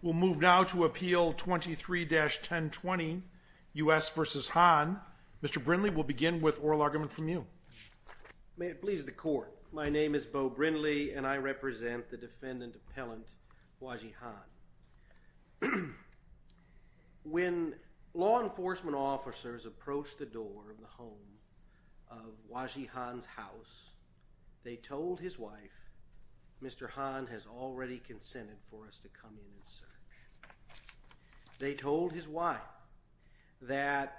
We'll move now to Appeal 23-1020 U.S. v. Han. Mr. Brindley, we'll begin with oral argument from you. May it please the Court. My name is Beau Brindley, and I represent the defendant appellant Huazhi Han. When law enforcement officers approached the door of the home of Huazhi Han's house, they told his wife, Mr. Han has already consented for us to come in and search. They told his wife that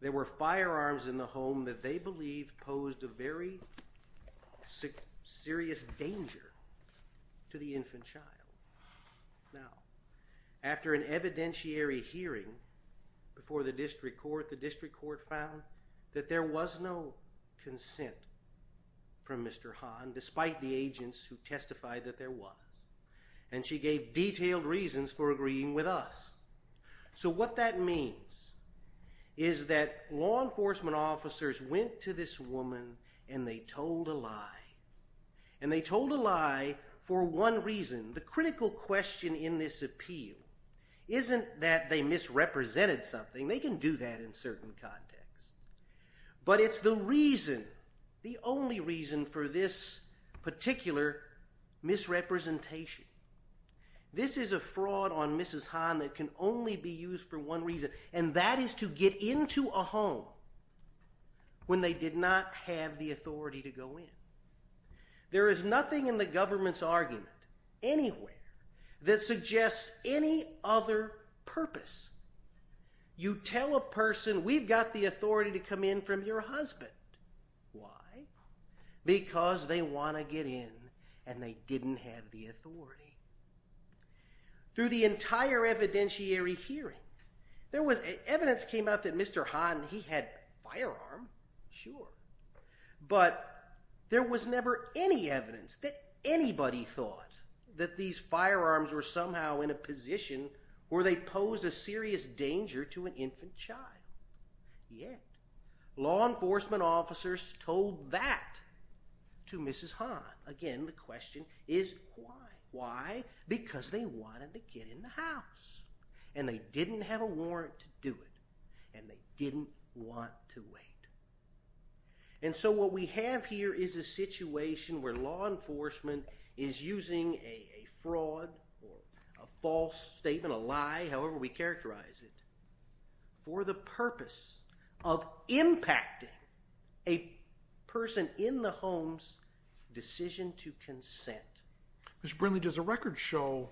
there were firearms in the home that they believed posed a very serious danger to the infant child. Now, after an evidentiary hearing before the District Court, the District Court found that there was no consent from Mr. Han, despite the agents who testified that there was. And she gave detailed reasons for agreeing with us. So what that means is that law enforcement officers went to this woman and they told a lie. And they told a lie for one reason. The critical question in this appeal isn't that they misrepresented something. They can do that in certain contexts. But it's the reason, the only reason for this particular misrepresentation. This is a fraud on Mrs. Han that can only be used for one reason, and that is to get into a home when they did not have the authority to go in. There is nothing in the government's argument, anywhere, that suggests any other purpose. You tell a person, we've got the authority to come in from your husband. Why? Because they want to get in and they didn't have the authority. Through the entire evidentiary hearing, evidence came out that Mr. Han, he had firearms, sure. But there was never any evidence that anybody thought that these firearms were somehow in a position where they posed a serious danger to an infant child. Yet, law enforcement officers told that to Mrs. Han. Again, the question is why? Why? Because they wanted to get in the house. And they didn't have a warrant to do it. And they didn't want to wait. And so what we have here is a situation where law enforcement is using a fraud or a false statement, a lie, however we characterize it, for the purpose of impacting a person in the home's decision to consent. Mr. Brinley, does the record show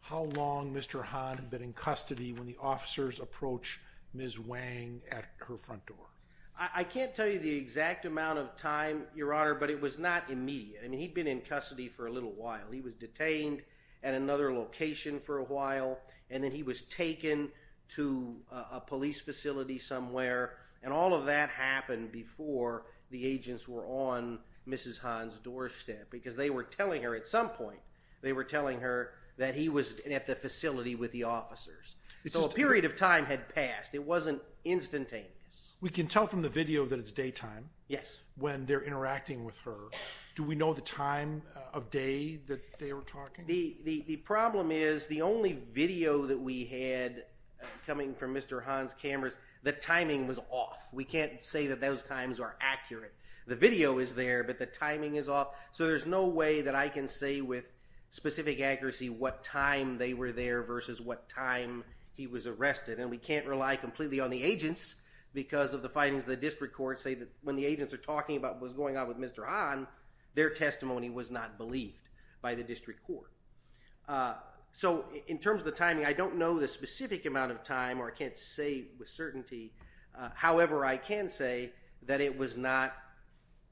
how long Mr. Han had been in custody when the officers approached Ms. Wang at her front door? I can't tell you the exact amount of time, Your Honor, but it was not immediate. I mean, he'd been in custody for a little while. He was detained at another location for a while, and then he was taken to a police facility somewhere. And all of that happened before the agents were on Mrs. Han's doorstep. Because they were telling her at some point, they were telling her that he was at the facility with the officers. So a period of time had passed. It wasn't instantaneous. We can tell from the video that it's daytime. Yes. When they're interacting with her. Do we know the time of day that they were talking? The problem is, the only video that we had coming from Mr. Han's cameras, the timing was off. We can't say that those times are accurate. The video is there, but the timing is off. So there's no way that I can say with specific accuracy what time they were there versus what time he was arrested. And we can't rely completely on the agents, because of the findings of the district court, say that when the agents are talking about what was going on with Mr. Han, their testimony was not believed by the district court. So in terms of the timing, I don't know the specific amount of time, or I can't say with certainty. However, I can say that it was not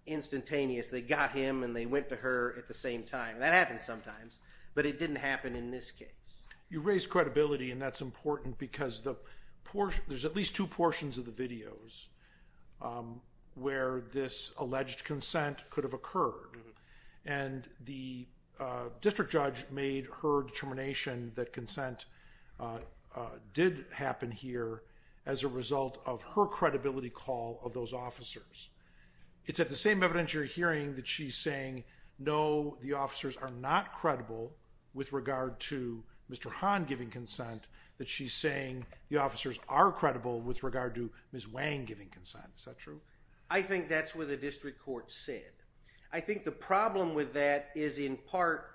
instantaneous. They got him and they went to her at the same time. That happens sometimes, but it didn't happen in this case. You raised credibility, and that's important because there's at least two portions of the videos where this alleged consent could have occurred. And the district judge made her determination that consent did happen here as a result of her credibility call of those officers. It's at the same evidence you're hearing that she's saying, no, the officers are not credible with regard to Mr. Han giving consent, that she's saying the officers are credible with regard to Ms. Wang giving consent. Is that true? I think that's what the district court said. I think the problem with that is in part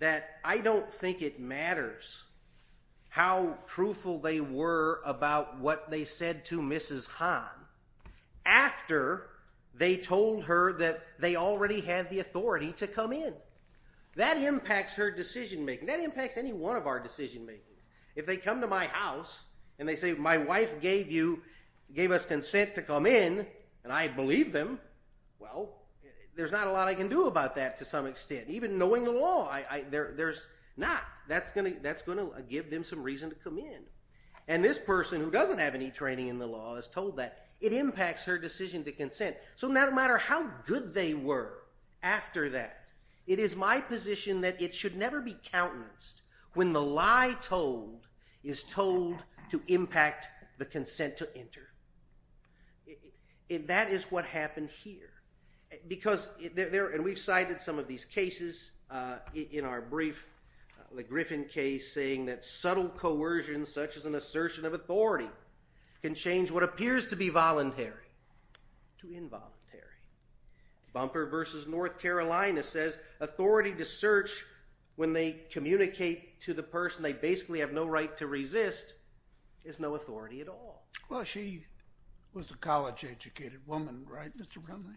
that I don't think it matters how truthful they were about what they said to Mrs. Han. After they told her that they already had the authority to come in. That impacts her decision-making. That impacts any one of our decision-making. If they come to my house and they say, my wife gave us consent to come in, and I believe them, well, there's not a lot I can do about that to some extent. Even knowing the law, there's not. That's going to give them some reason to come in. And this person who doesn't have any training in the law is told that. It impacts her decision to consent. So no matter how good they were after that, it is my position that it should never be countenanced when the lie told is told to impact the consent to enter. That is what happened here. And we've cited some of these cases in our brief. The Griffin case saying that subtle coercion such as an assertion of authority can change what appears to be voluntary to involuntary. Bumper v. North Carolina says authority to search when they communicate to the person they basically have no right to resist is no authority at all. Well, she was a college-educated woman, right, Mr. Brumley?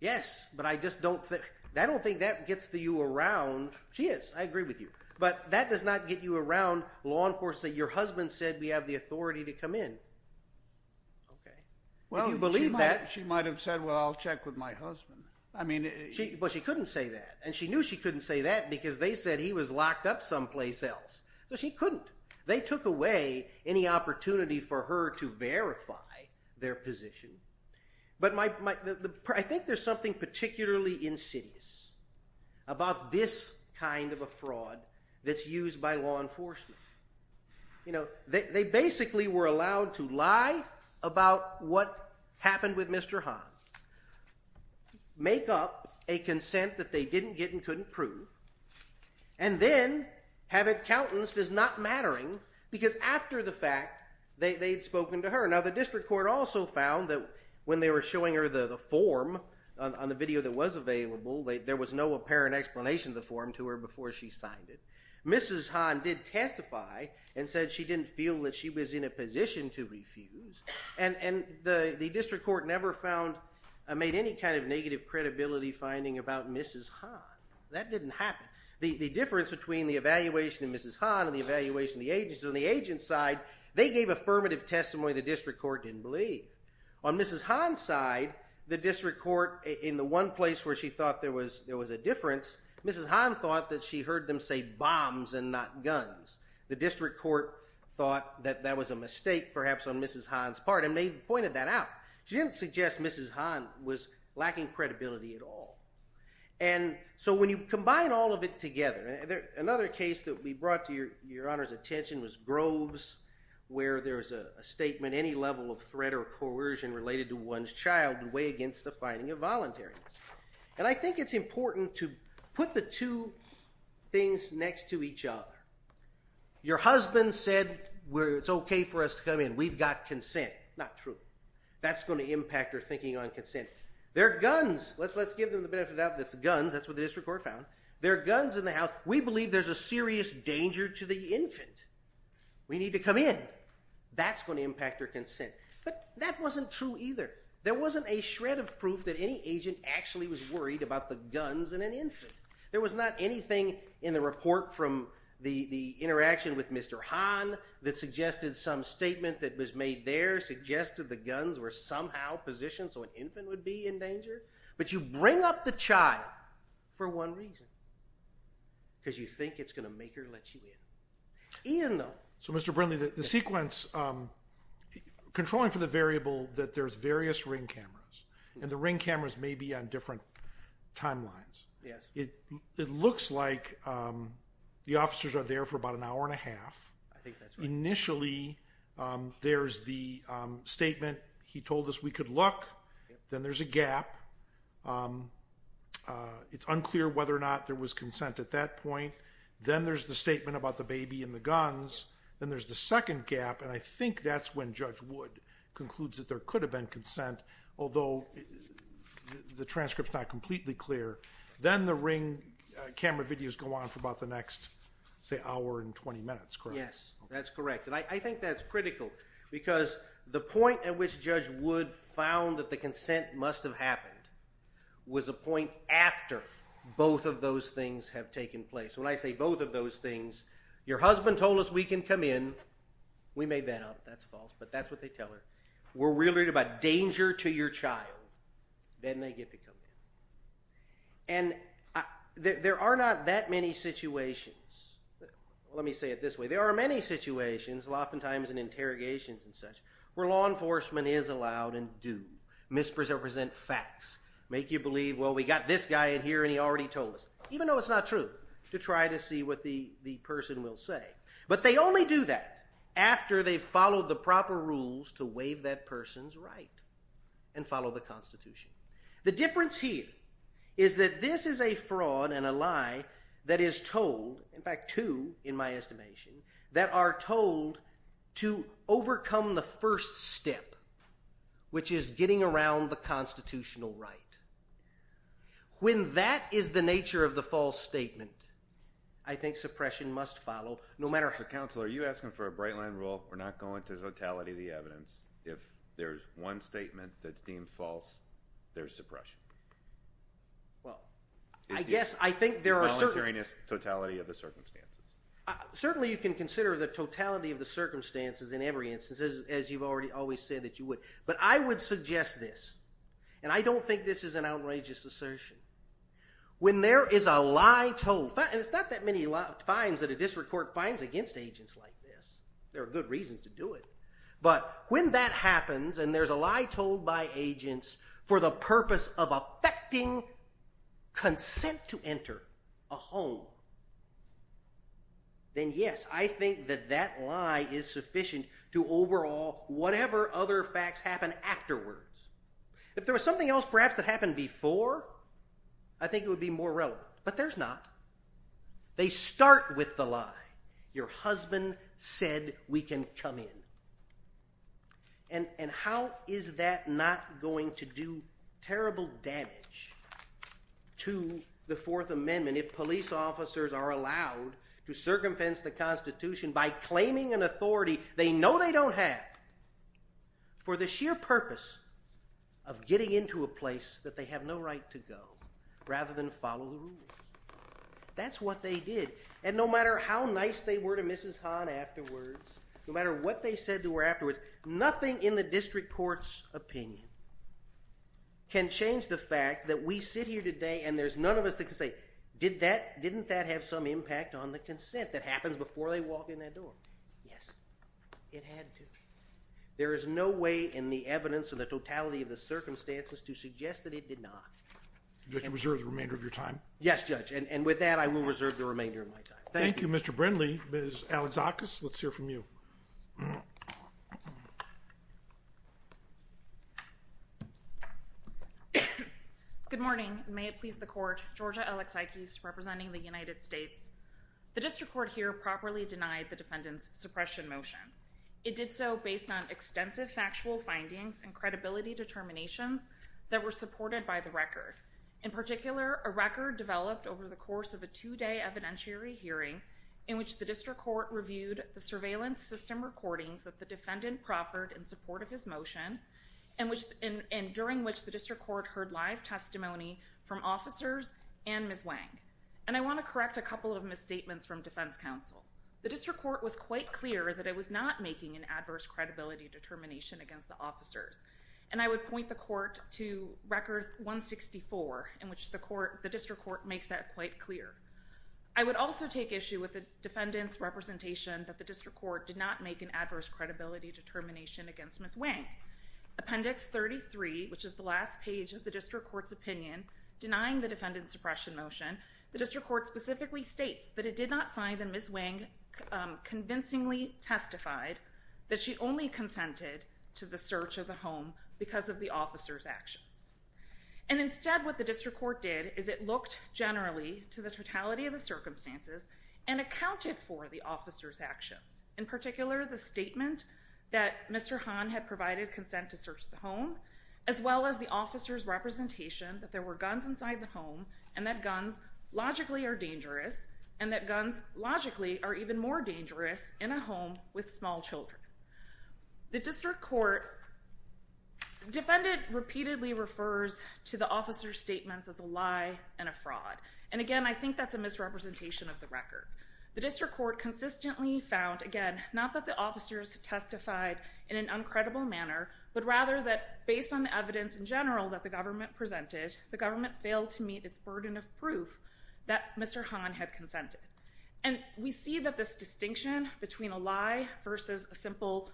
Yes, but I don't think that gets you around. She is, I agree with you. But that does not get you around law enforcement. Your husband said we have the authority to come in. Would you believe that? Well, she might have said, well, I'll check with my husband. But she couldn't say that. And she knew she couldn't say that because they said he was locked up someplace else. So she couldn't. They took away any opportunity for her to verify their position. But I think there's something particularly insidious about this kind of a fraud that's used by law enforcement. They basically were allowed to lie about what happened with Mr. Hahn, make up a consent that they didn't get and couldn't prove, and then have it countenanced as not mattering because after the fact they had spoken to her. Now, the district court also found that when they were showing her the form on the video that was available, there was no apparent explanation of the form to her before she signed it. Mrs. Hahn did testify and said she didn't feel that she was in a position to refuse. And the district court never found or made any kind of negative credibility finding about Mrs. Hahn. That didn't happen. The difference between the evaluation of Mrs. Hahn and the evaluation of the agents, on the agents' side, they gave affirmative testimony the district court didn't believe. On Mrs. Hahn's side, the district court, in the one place where she thought there was a difference, Mrs. Hahn thought that she heard them say bombs and not guns. The district court thought that that was a mistake perhaps on Mrs. Hahn's part and pointed that out. She didn't suggest Mrs. Hahn was lacking credibility at all. And so when you combine all of it together, another case that we brought to your Honor's attention was Groves where there was a statement, any level of threat or coercion related to one's child would weigh against the finding of voluntariness. And I think it's important to put the two things next to each other. Your husband said it's okay for us to come in. We've got consent. Not true. That's going to impact her thinking on consent. There are guns. Let's give them the benefit of the doubt that it's guns. That's what the district court found. There are guns in the house. We believe there's a serious danger to the infant. We need to come in. That's going to impact her consent. But that wasn't true either. There wasn't a shred of proof that any agent actually was worried about the guns in an infant. There was not anything in the report from the interaction with Mr. Hahn that suggested some statement that was made there, suggested the guns were somehow positioned so an infant would be in danger. But you bring up the child for one reason, because you think it's going to make her let you in. Ian, though. So, Mr. Brindley, the sequence controlling for the variable that there's various ring cameras, and the ring cameras may be on different timelines. It looks like the officers are there for about an hour and a half. Initially, there's the statement, he told us we could look. Then there's a gap. It's unclear whether or not there was consent at that point. Then there's the statement about the baby and the guns. Then there's the second gap, and I think that's when Judge Wood concludes that there could have been consent, although the transcript's not completely clear. Then the ring camera videos go on for about the next, say, hour and 20 minutes, correct? Yes, that's correct, and I think that's critical, because the point at which Judge Wood found that the consent must have happened was a point after both of those things have taken place. When I say both of those things, your husband told us we can come in. We made that up. That's false, but that's what they tell her. We're worried about danger to your child. Then they get to come in, and there are not that many situations. Let me say it this way. There are many situations, oftentimes in interrogations and such, where law enforcement is allowed and do misrepresent facts, make you believe, well, we got this guy in here, and he already told us, even though it's not true, to try to see what the person will say, but they only do that after they've followed the proper rules to waive that person's right and follow the Constitution. The difference here is that this is a fraud and a lie that is told, in fact two in my estimation, that are told to overcome the first step, which is getting around the constitutional right. When that is the nature of the false statement, I think suppression must follow no matter how. Counselor, are you asking for a bright-line rule? We're not going to totality the evidence. If there's one statement that's deemed false, there's suppression. Well, I guess I think there are certain… Volunteering is totality of the circumstances. Certainly you can consider the totality of the circumstances in every instance, as you've already always said that you would, but I would suggest this, and I don't think this is an outrageous assertion. When there is a lie told, and it's not that many fines that a district court finds against agents like this, there are good reasons to do it, but when that happens and there's a lie told by agents for the purpose of affecting consent to enter a home, then yes, I think that that lie is sufficient to overhaul whatever other facts happen afterwards. If there was something else perhaps that happened before, I think it would be more relevant, but there's not. They start with the lie. Your husband said we can come in. And how is that not going to do terrible damage to the Fourth Amendment if police officers are allowed to circumvent the Constitution by claiming an authority they know they don't have for the sheer purpose of getting into a place that they have no right to go rather than follow the rules? That's what they did. And no matter how nice they were to Mrs. Hahn afterwards, no matter what they said to her afterwards, nothing in the district court's opinion can change the fact that we sit here today and there's none of us that can say, didn't that have some impact on the consent that happens before they walk in that door? Yes, it had to. There is no way in the evidence of the totality of the circumstances to suggest that it did not. Did you reserve the remainder of your time? Yes, Judge, and with that I will reserve the remainder of my time. Thank you. Thank you, Mr. Brindley. Ms. Alexakis, let's hear from you. Good morning. May it please the Court. Georgia Alexakis representing the United States. The district court here properly denied the defendant's suppression motion. It did so based on extensive factual findings and credibility determinations that were supported by the record. In particular, a record developed over the course of a two-day evidentiary hearing in which the district court reviewed the surveillance system recordings that the defendant proffered in support of his motion and during which the district court heard live testimony from officers and Ms. Wang. And I want to correct a couple of misstatements from defense counsel. The district court was quite clear that it was not making an adverse credibility determination against the officers. And I would point the court to Record 164 in which the district court makes that quite clear. I would also take issue with the defendant's representation that the district court did not make an adverse credibility determination against Ms. Wang. Appendix 33, which is the last page of the district court's opinion, denying the defendant's suppression motion, the district court specifically states that it did not find that Ms. Wang convincingly testified that she only consented to the search of the home because of the officer's actions. And instead what the district court did is it looked generally to the totality of the circumstances and accounted for the officer's actions. In particular, the statement that Mr. Han had provided consent to search the home, as well as the officer's representation that there were guns inside the home and that guns logically are dangerous and that guns logically are even more dangerous in a home with small children. The district court defendant repeatedly refers to the officer's statements as a lie and a fraud. And again, I think that's a misrepresentation of the record. The district court consistently found, again, not that the officers testified in an uncredible manner, but rather that based on the evidence in general that the government presented, the government failed to meet its burden of proof that Mr. Han had consented. And we see that this distinction between a lie versus a simple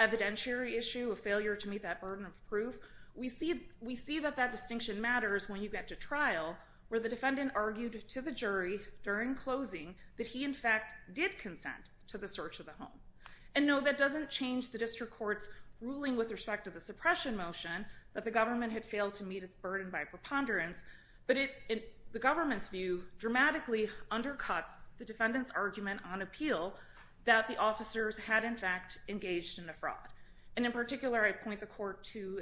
evidentiary issue, a failure to meet that burden of proof, we see that that distinction matters when you get to trial where the defendant argued to the jury during closing that he in fact did consent to the search of the home. And no, that doesn't change the district court's ruling with respect to the suppression motion that the government had failed to meet its burden by preponderance, but the government's view dramatically undercuts the defendant's argument on appeal that the officers had in fact engaged in a fraud. And in particular, I point the court to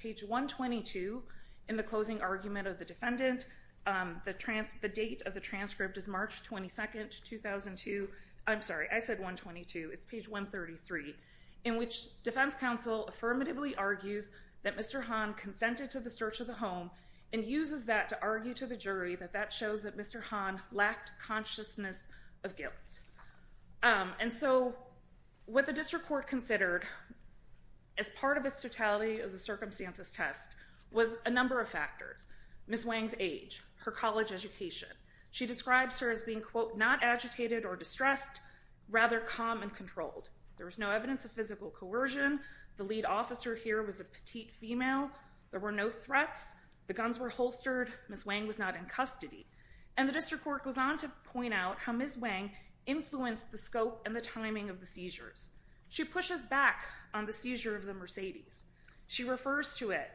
page 122 in the closing argument of the defendant. The date of the transcript is March 22, 2002. I'm sorry, I said 122. It's page 133, in which defense counsel affirmatively argues that Mr. Han consented to the search of the home and uses that to argue to the jury that that shows that Mr. Han lacked consciousness of guilt. And so what the district court considered as part of its totality of the circumstances test was a number of factors. Ms. Wang's age, her college education. She describes her as being, quote, not agitated or distressed, rather calm and controlled. There was no evidence of physical coercion. The lead officer here was a petite female. There were no threats. The guns were holstered. Ms. Wang was not in custody. And the district court goes on to point out how Ms. Wang influenced the scope and the timing of the seizures. She pushes back on the seizure of the Mercedes. She refers to it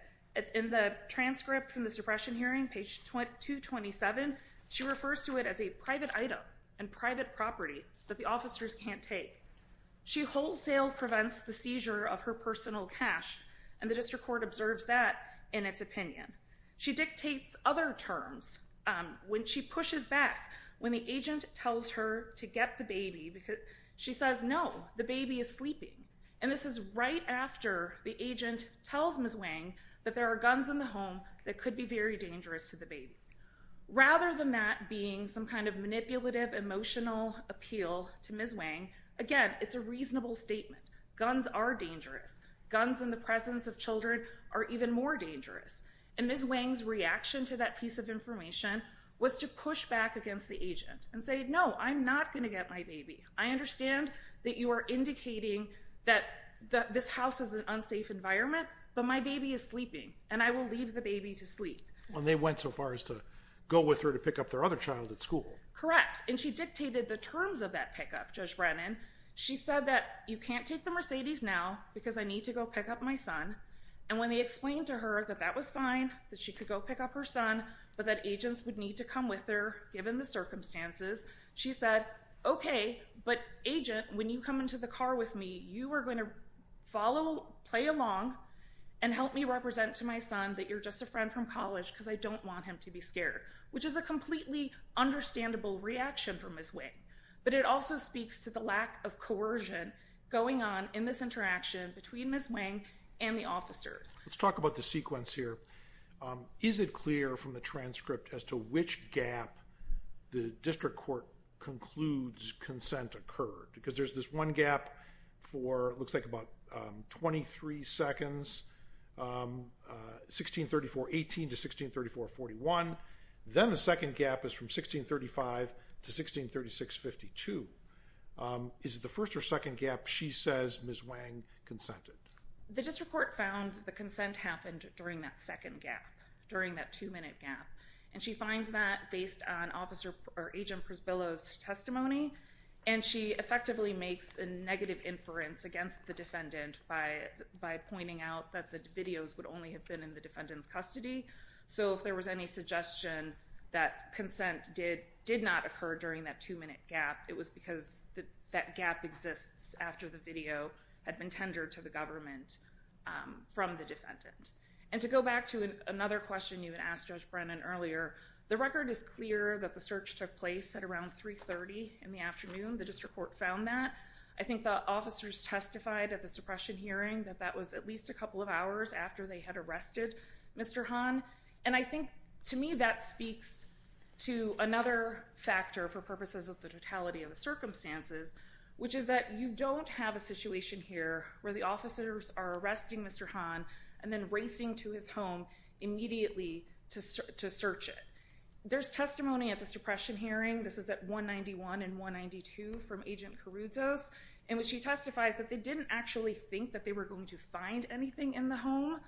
in the transcript from the suppression hearing, page 227. She refers to it as a private item and private property that the officers can't take. She wholesale prevents the seizure of her personal cash, and the district court observes that in its opinion. She dictates other terms when she pushes back, when the agent tells her to get the baby. She says, no, the baby is sleeping. And this is right after the agent tells Ms. Wang that there are guns in the home that could be very dangerous to the baby. Rather than that being some kind of manipulative, emotional appeal to Ms. Wang, again, it's a reasonable statement. Guns are dangerous. Guns in the presence of children are even more dangerous. And Ms. Wang's reaction to that piece of information was to push back against the agent and say, no, I'm not going to get my baby. I understand that you are indicating that this house is an unsafe environment, but my baby is sleeping, and I will leave the baby to sleep. And they went so far as to go with her to pick up their other child at school. Correct. And she dictated the terms of that pickup, Judge Brennan. She said that you can't take the Mercedes now because I need to go pick up my son. And when they explained to her that that was fine, that she could go pick up her son, but that agents would need to come with her given the circumstances, she said, okay, but agent, when you come into the car with me, you are going to follow, play along, and help me represent to my son that you're just a friend from college because I don't want him to be scared, which is a completely understandable reaction from Ms. Wang. But it also speaks to the lack of coercion going on in this interaction between Ms. Wang and the officers. Let's talk about the sequence here. Is it clear from the transcript as to which gap the district court concludes consent occurred? Because there's this one gap for it looks like about 23 seconds, 1634.18 to 1634.41. Then the second gap is from 1635 to 1636.52. Is it the first or second gap she says Ms. Wang consented? The district court found the consent happened during that second gap, during that two-minute gap. And she finds that based on Agent Prisbillo's testimony, and she effectively makes a negative inference against the defendant by pointing out that the videos would only have been in the defendant's custody. So if there was any suggestion that consent did not occur during that two-minute gap, it was because that gap exists after the video had been tendered to the government from the defendant. And to go back to another question you had asked Judge Brennan earlier, the record is clear that the search took place at around 3.30 in the afternoon. The district court found that. I think the officers testified at the suppression hearing that that was at least a couple of hours after they had arrested Mr. Han. And I think to me that speaks to another factor for purposes of the totality of the circumstances, which is that you don't have a situation here where the officers are arresting Mr. Han and then racing to his home immediately to search it. There's testimony at the suppression hearing. This is at 191 and 192 from Agent Caruso's, in which he testifies that they didn't actually think that they were going to find anything in the home.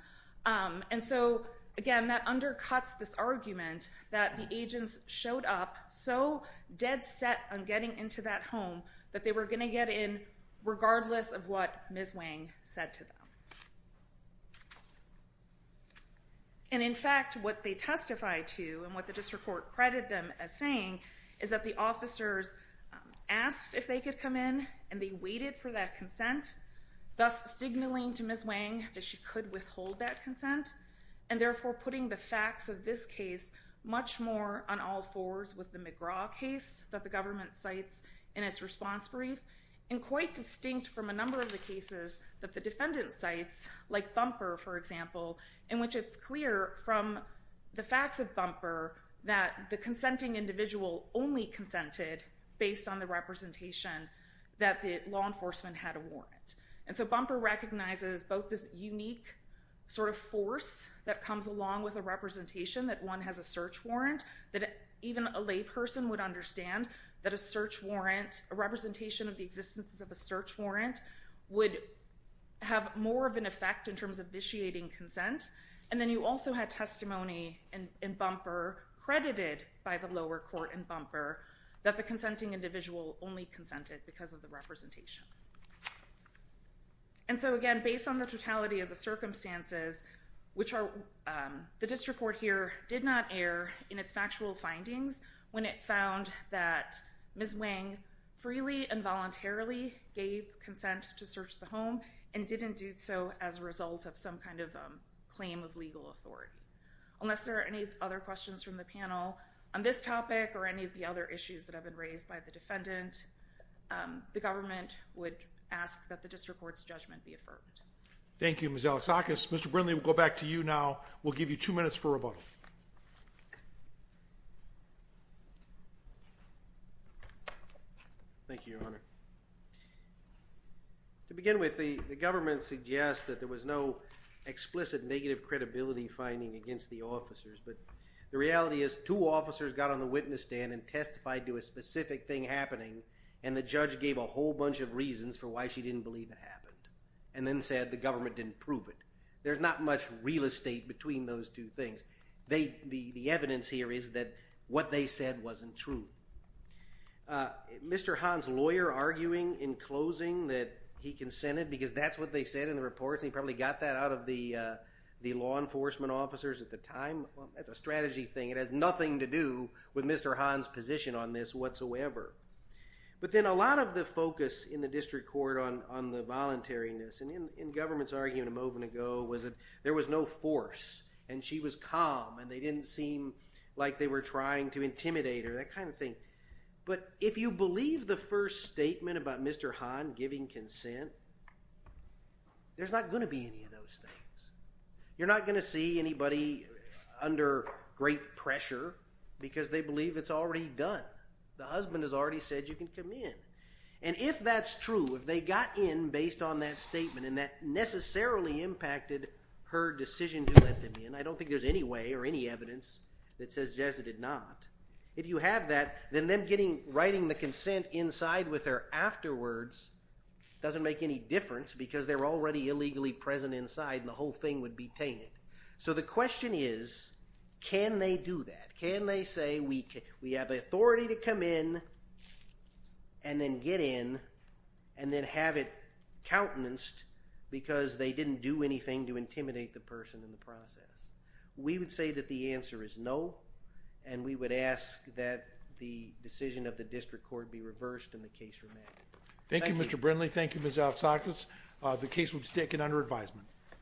And so, again, that undercuts this argument that the agents showed up so dead set on getting into that home that they were going to get in regardless of what Ms. Wang said to them. And in fact, what they testified to and what the district court credited them as saying is that the officers asked if they could come in and they waited for that consent, thus signaling to Ms. Wang that she could withhold that consent and therefore putting the facts of this case much more on all fours with the McGraw case that the government cites in its response brief, and quite distinct from a number of the cases that the defendant cites, like Thumper, for example, in which it's clear from the facts of Thumper that the consenting individual only consented based on the representation that the law enforcement had a warrant. And so Bumper recognizes both this unique sort of force that comes along with a representation that one has a search warrant, that even a layperson would understand that a search warrant, a representation of the existence of a search warrant, would have more of an effect in terms of vitiating consent. And then you also had testimony in Bumper credited by the lower court in Bumper that the consenting individual only consented because of the representation. And so again, based on the totality of the circumstances, which the district court here did not air in its factual findings when it found that Ms. Wang freely and voluntarily gave consent to search the home and didn't do so as a result of some kind of claim of legal authority. Unless there are any other questions from the panel on this topic or any of the other issues that have been raised by the defendant, the government would ask that the district court's judgment be affirmed. Thank you, Ms. Alexakis. Mr. Brindley, we'll go back to you now. We'll give you two minutes for rebuttal. Thank you, Your Honor. To begin with, the government suggests that there was no explicit negative credibility finding against the officers, but the reality is two officers got on the witness stand and testified to a specific thing happening, and the judge gave a whole bunch of reasons for why she didn't believe it happened and then said the government didn't prove it. There's not much real estate between those two things. The evidence here is that what they said wasn't true. Mr. Hahn's lawyer arguing in closing that he consented because that's what they said in the reports. He probably got that out of the law enforcement officers at the time. That's a strategy thing. It has nothing to do with Mr. Hahn's position on this whatsoever. But then a lot of the focus in the district court on the voluntariness and in government's argument a moment ago was that there was no force and she was calm and they didn't seem like they were trying to intimidate her. That kind of thing. But if you believe the first statement about Mr. Hahn giving consent, there's not going to be any of those things. You're not going to see anybody under great pressure because they believe it's already done. The husband has already said you can come in. And if that's true, if they got in based on that statement and that necessarily impacted her decision to let them in, I don't think there's any way or any evidence that says Jess did not. If you have that, then them writing the consent inside with her afterwards doesn't make any difference because they're already illegally present inside and the whole thing would be tainted. So the question is can they do that? Can they say we have the authority to come in and then get in and then have it countenanced because they didn't do anything to intimidate the person in the process? We would say that the answer is no, and we would ask that the decision of the district court be reversed and the case remanded. Thank you, Mr. Brindley. Thank you, Ms. Alpsakis. The case was taken under advisement.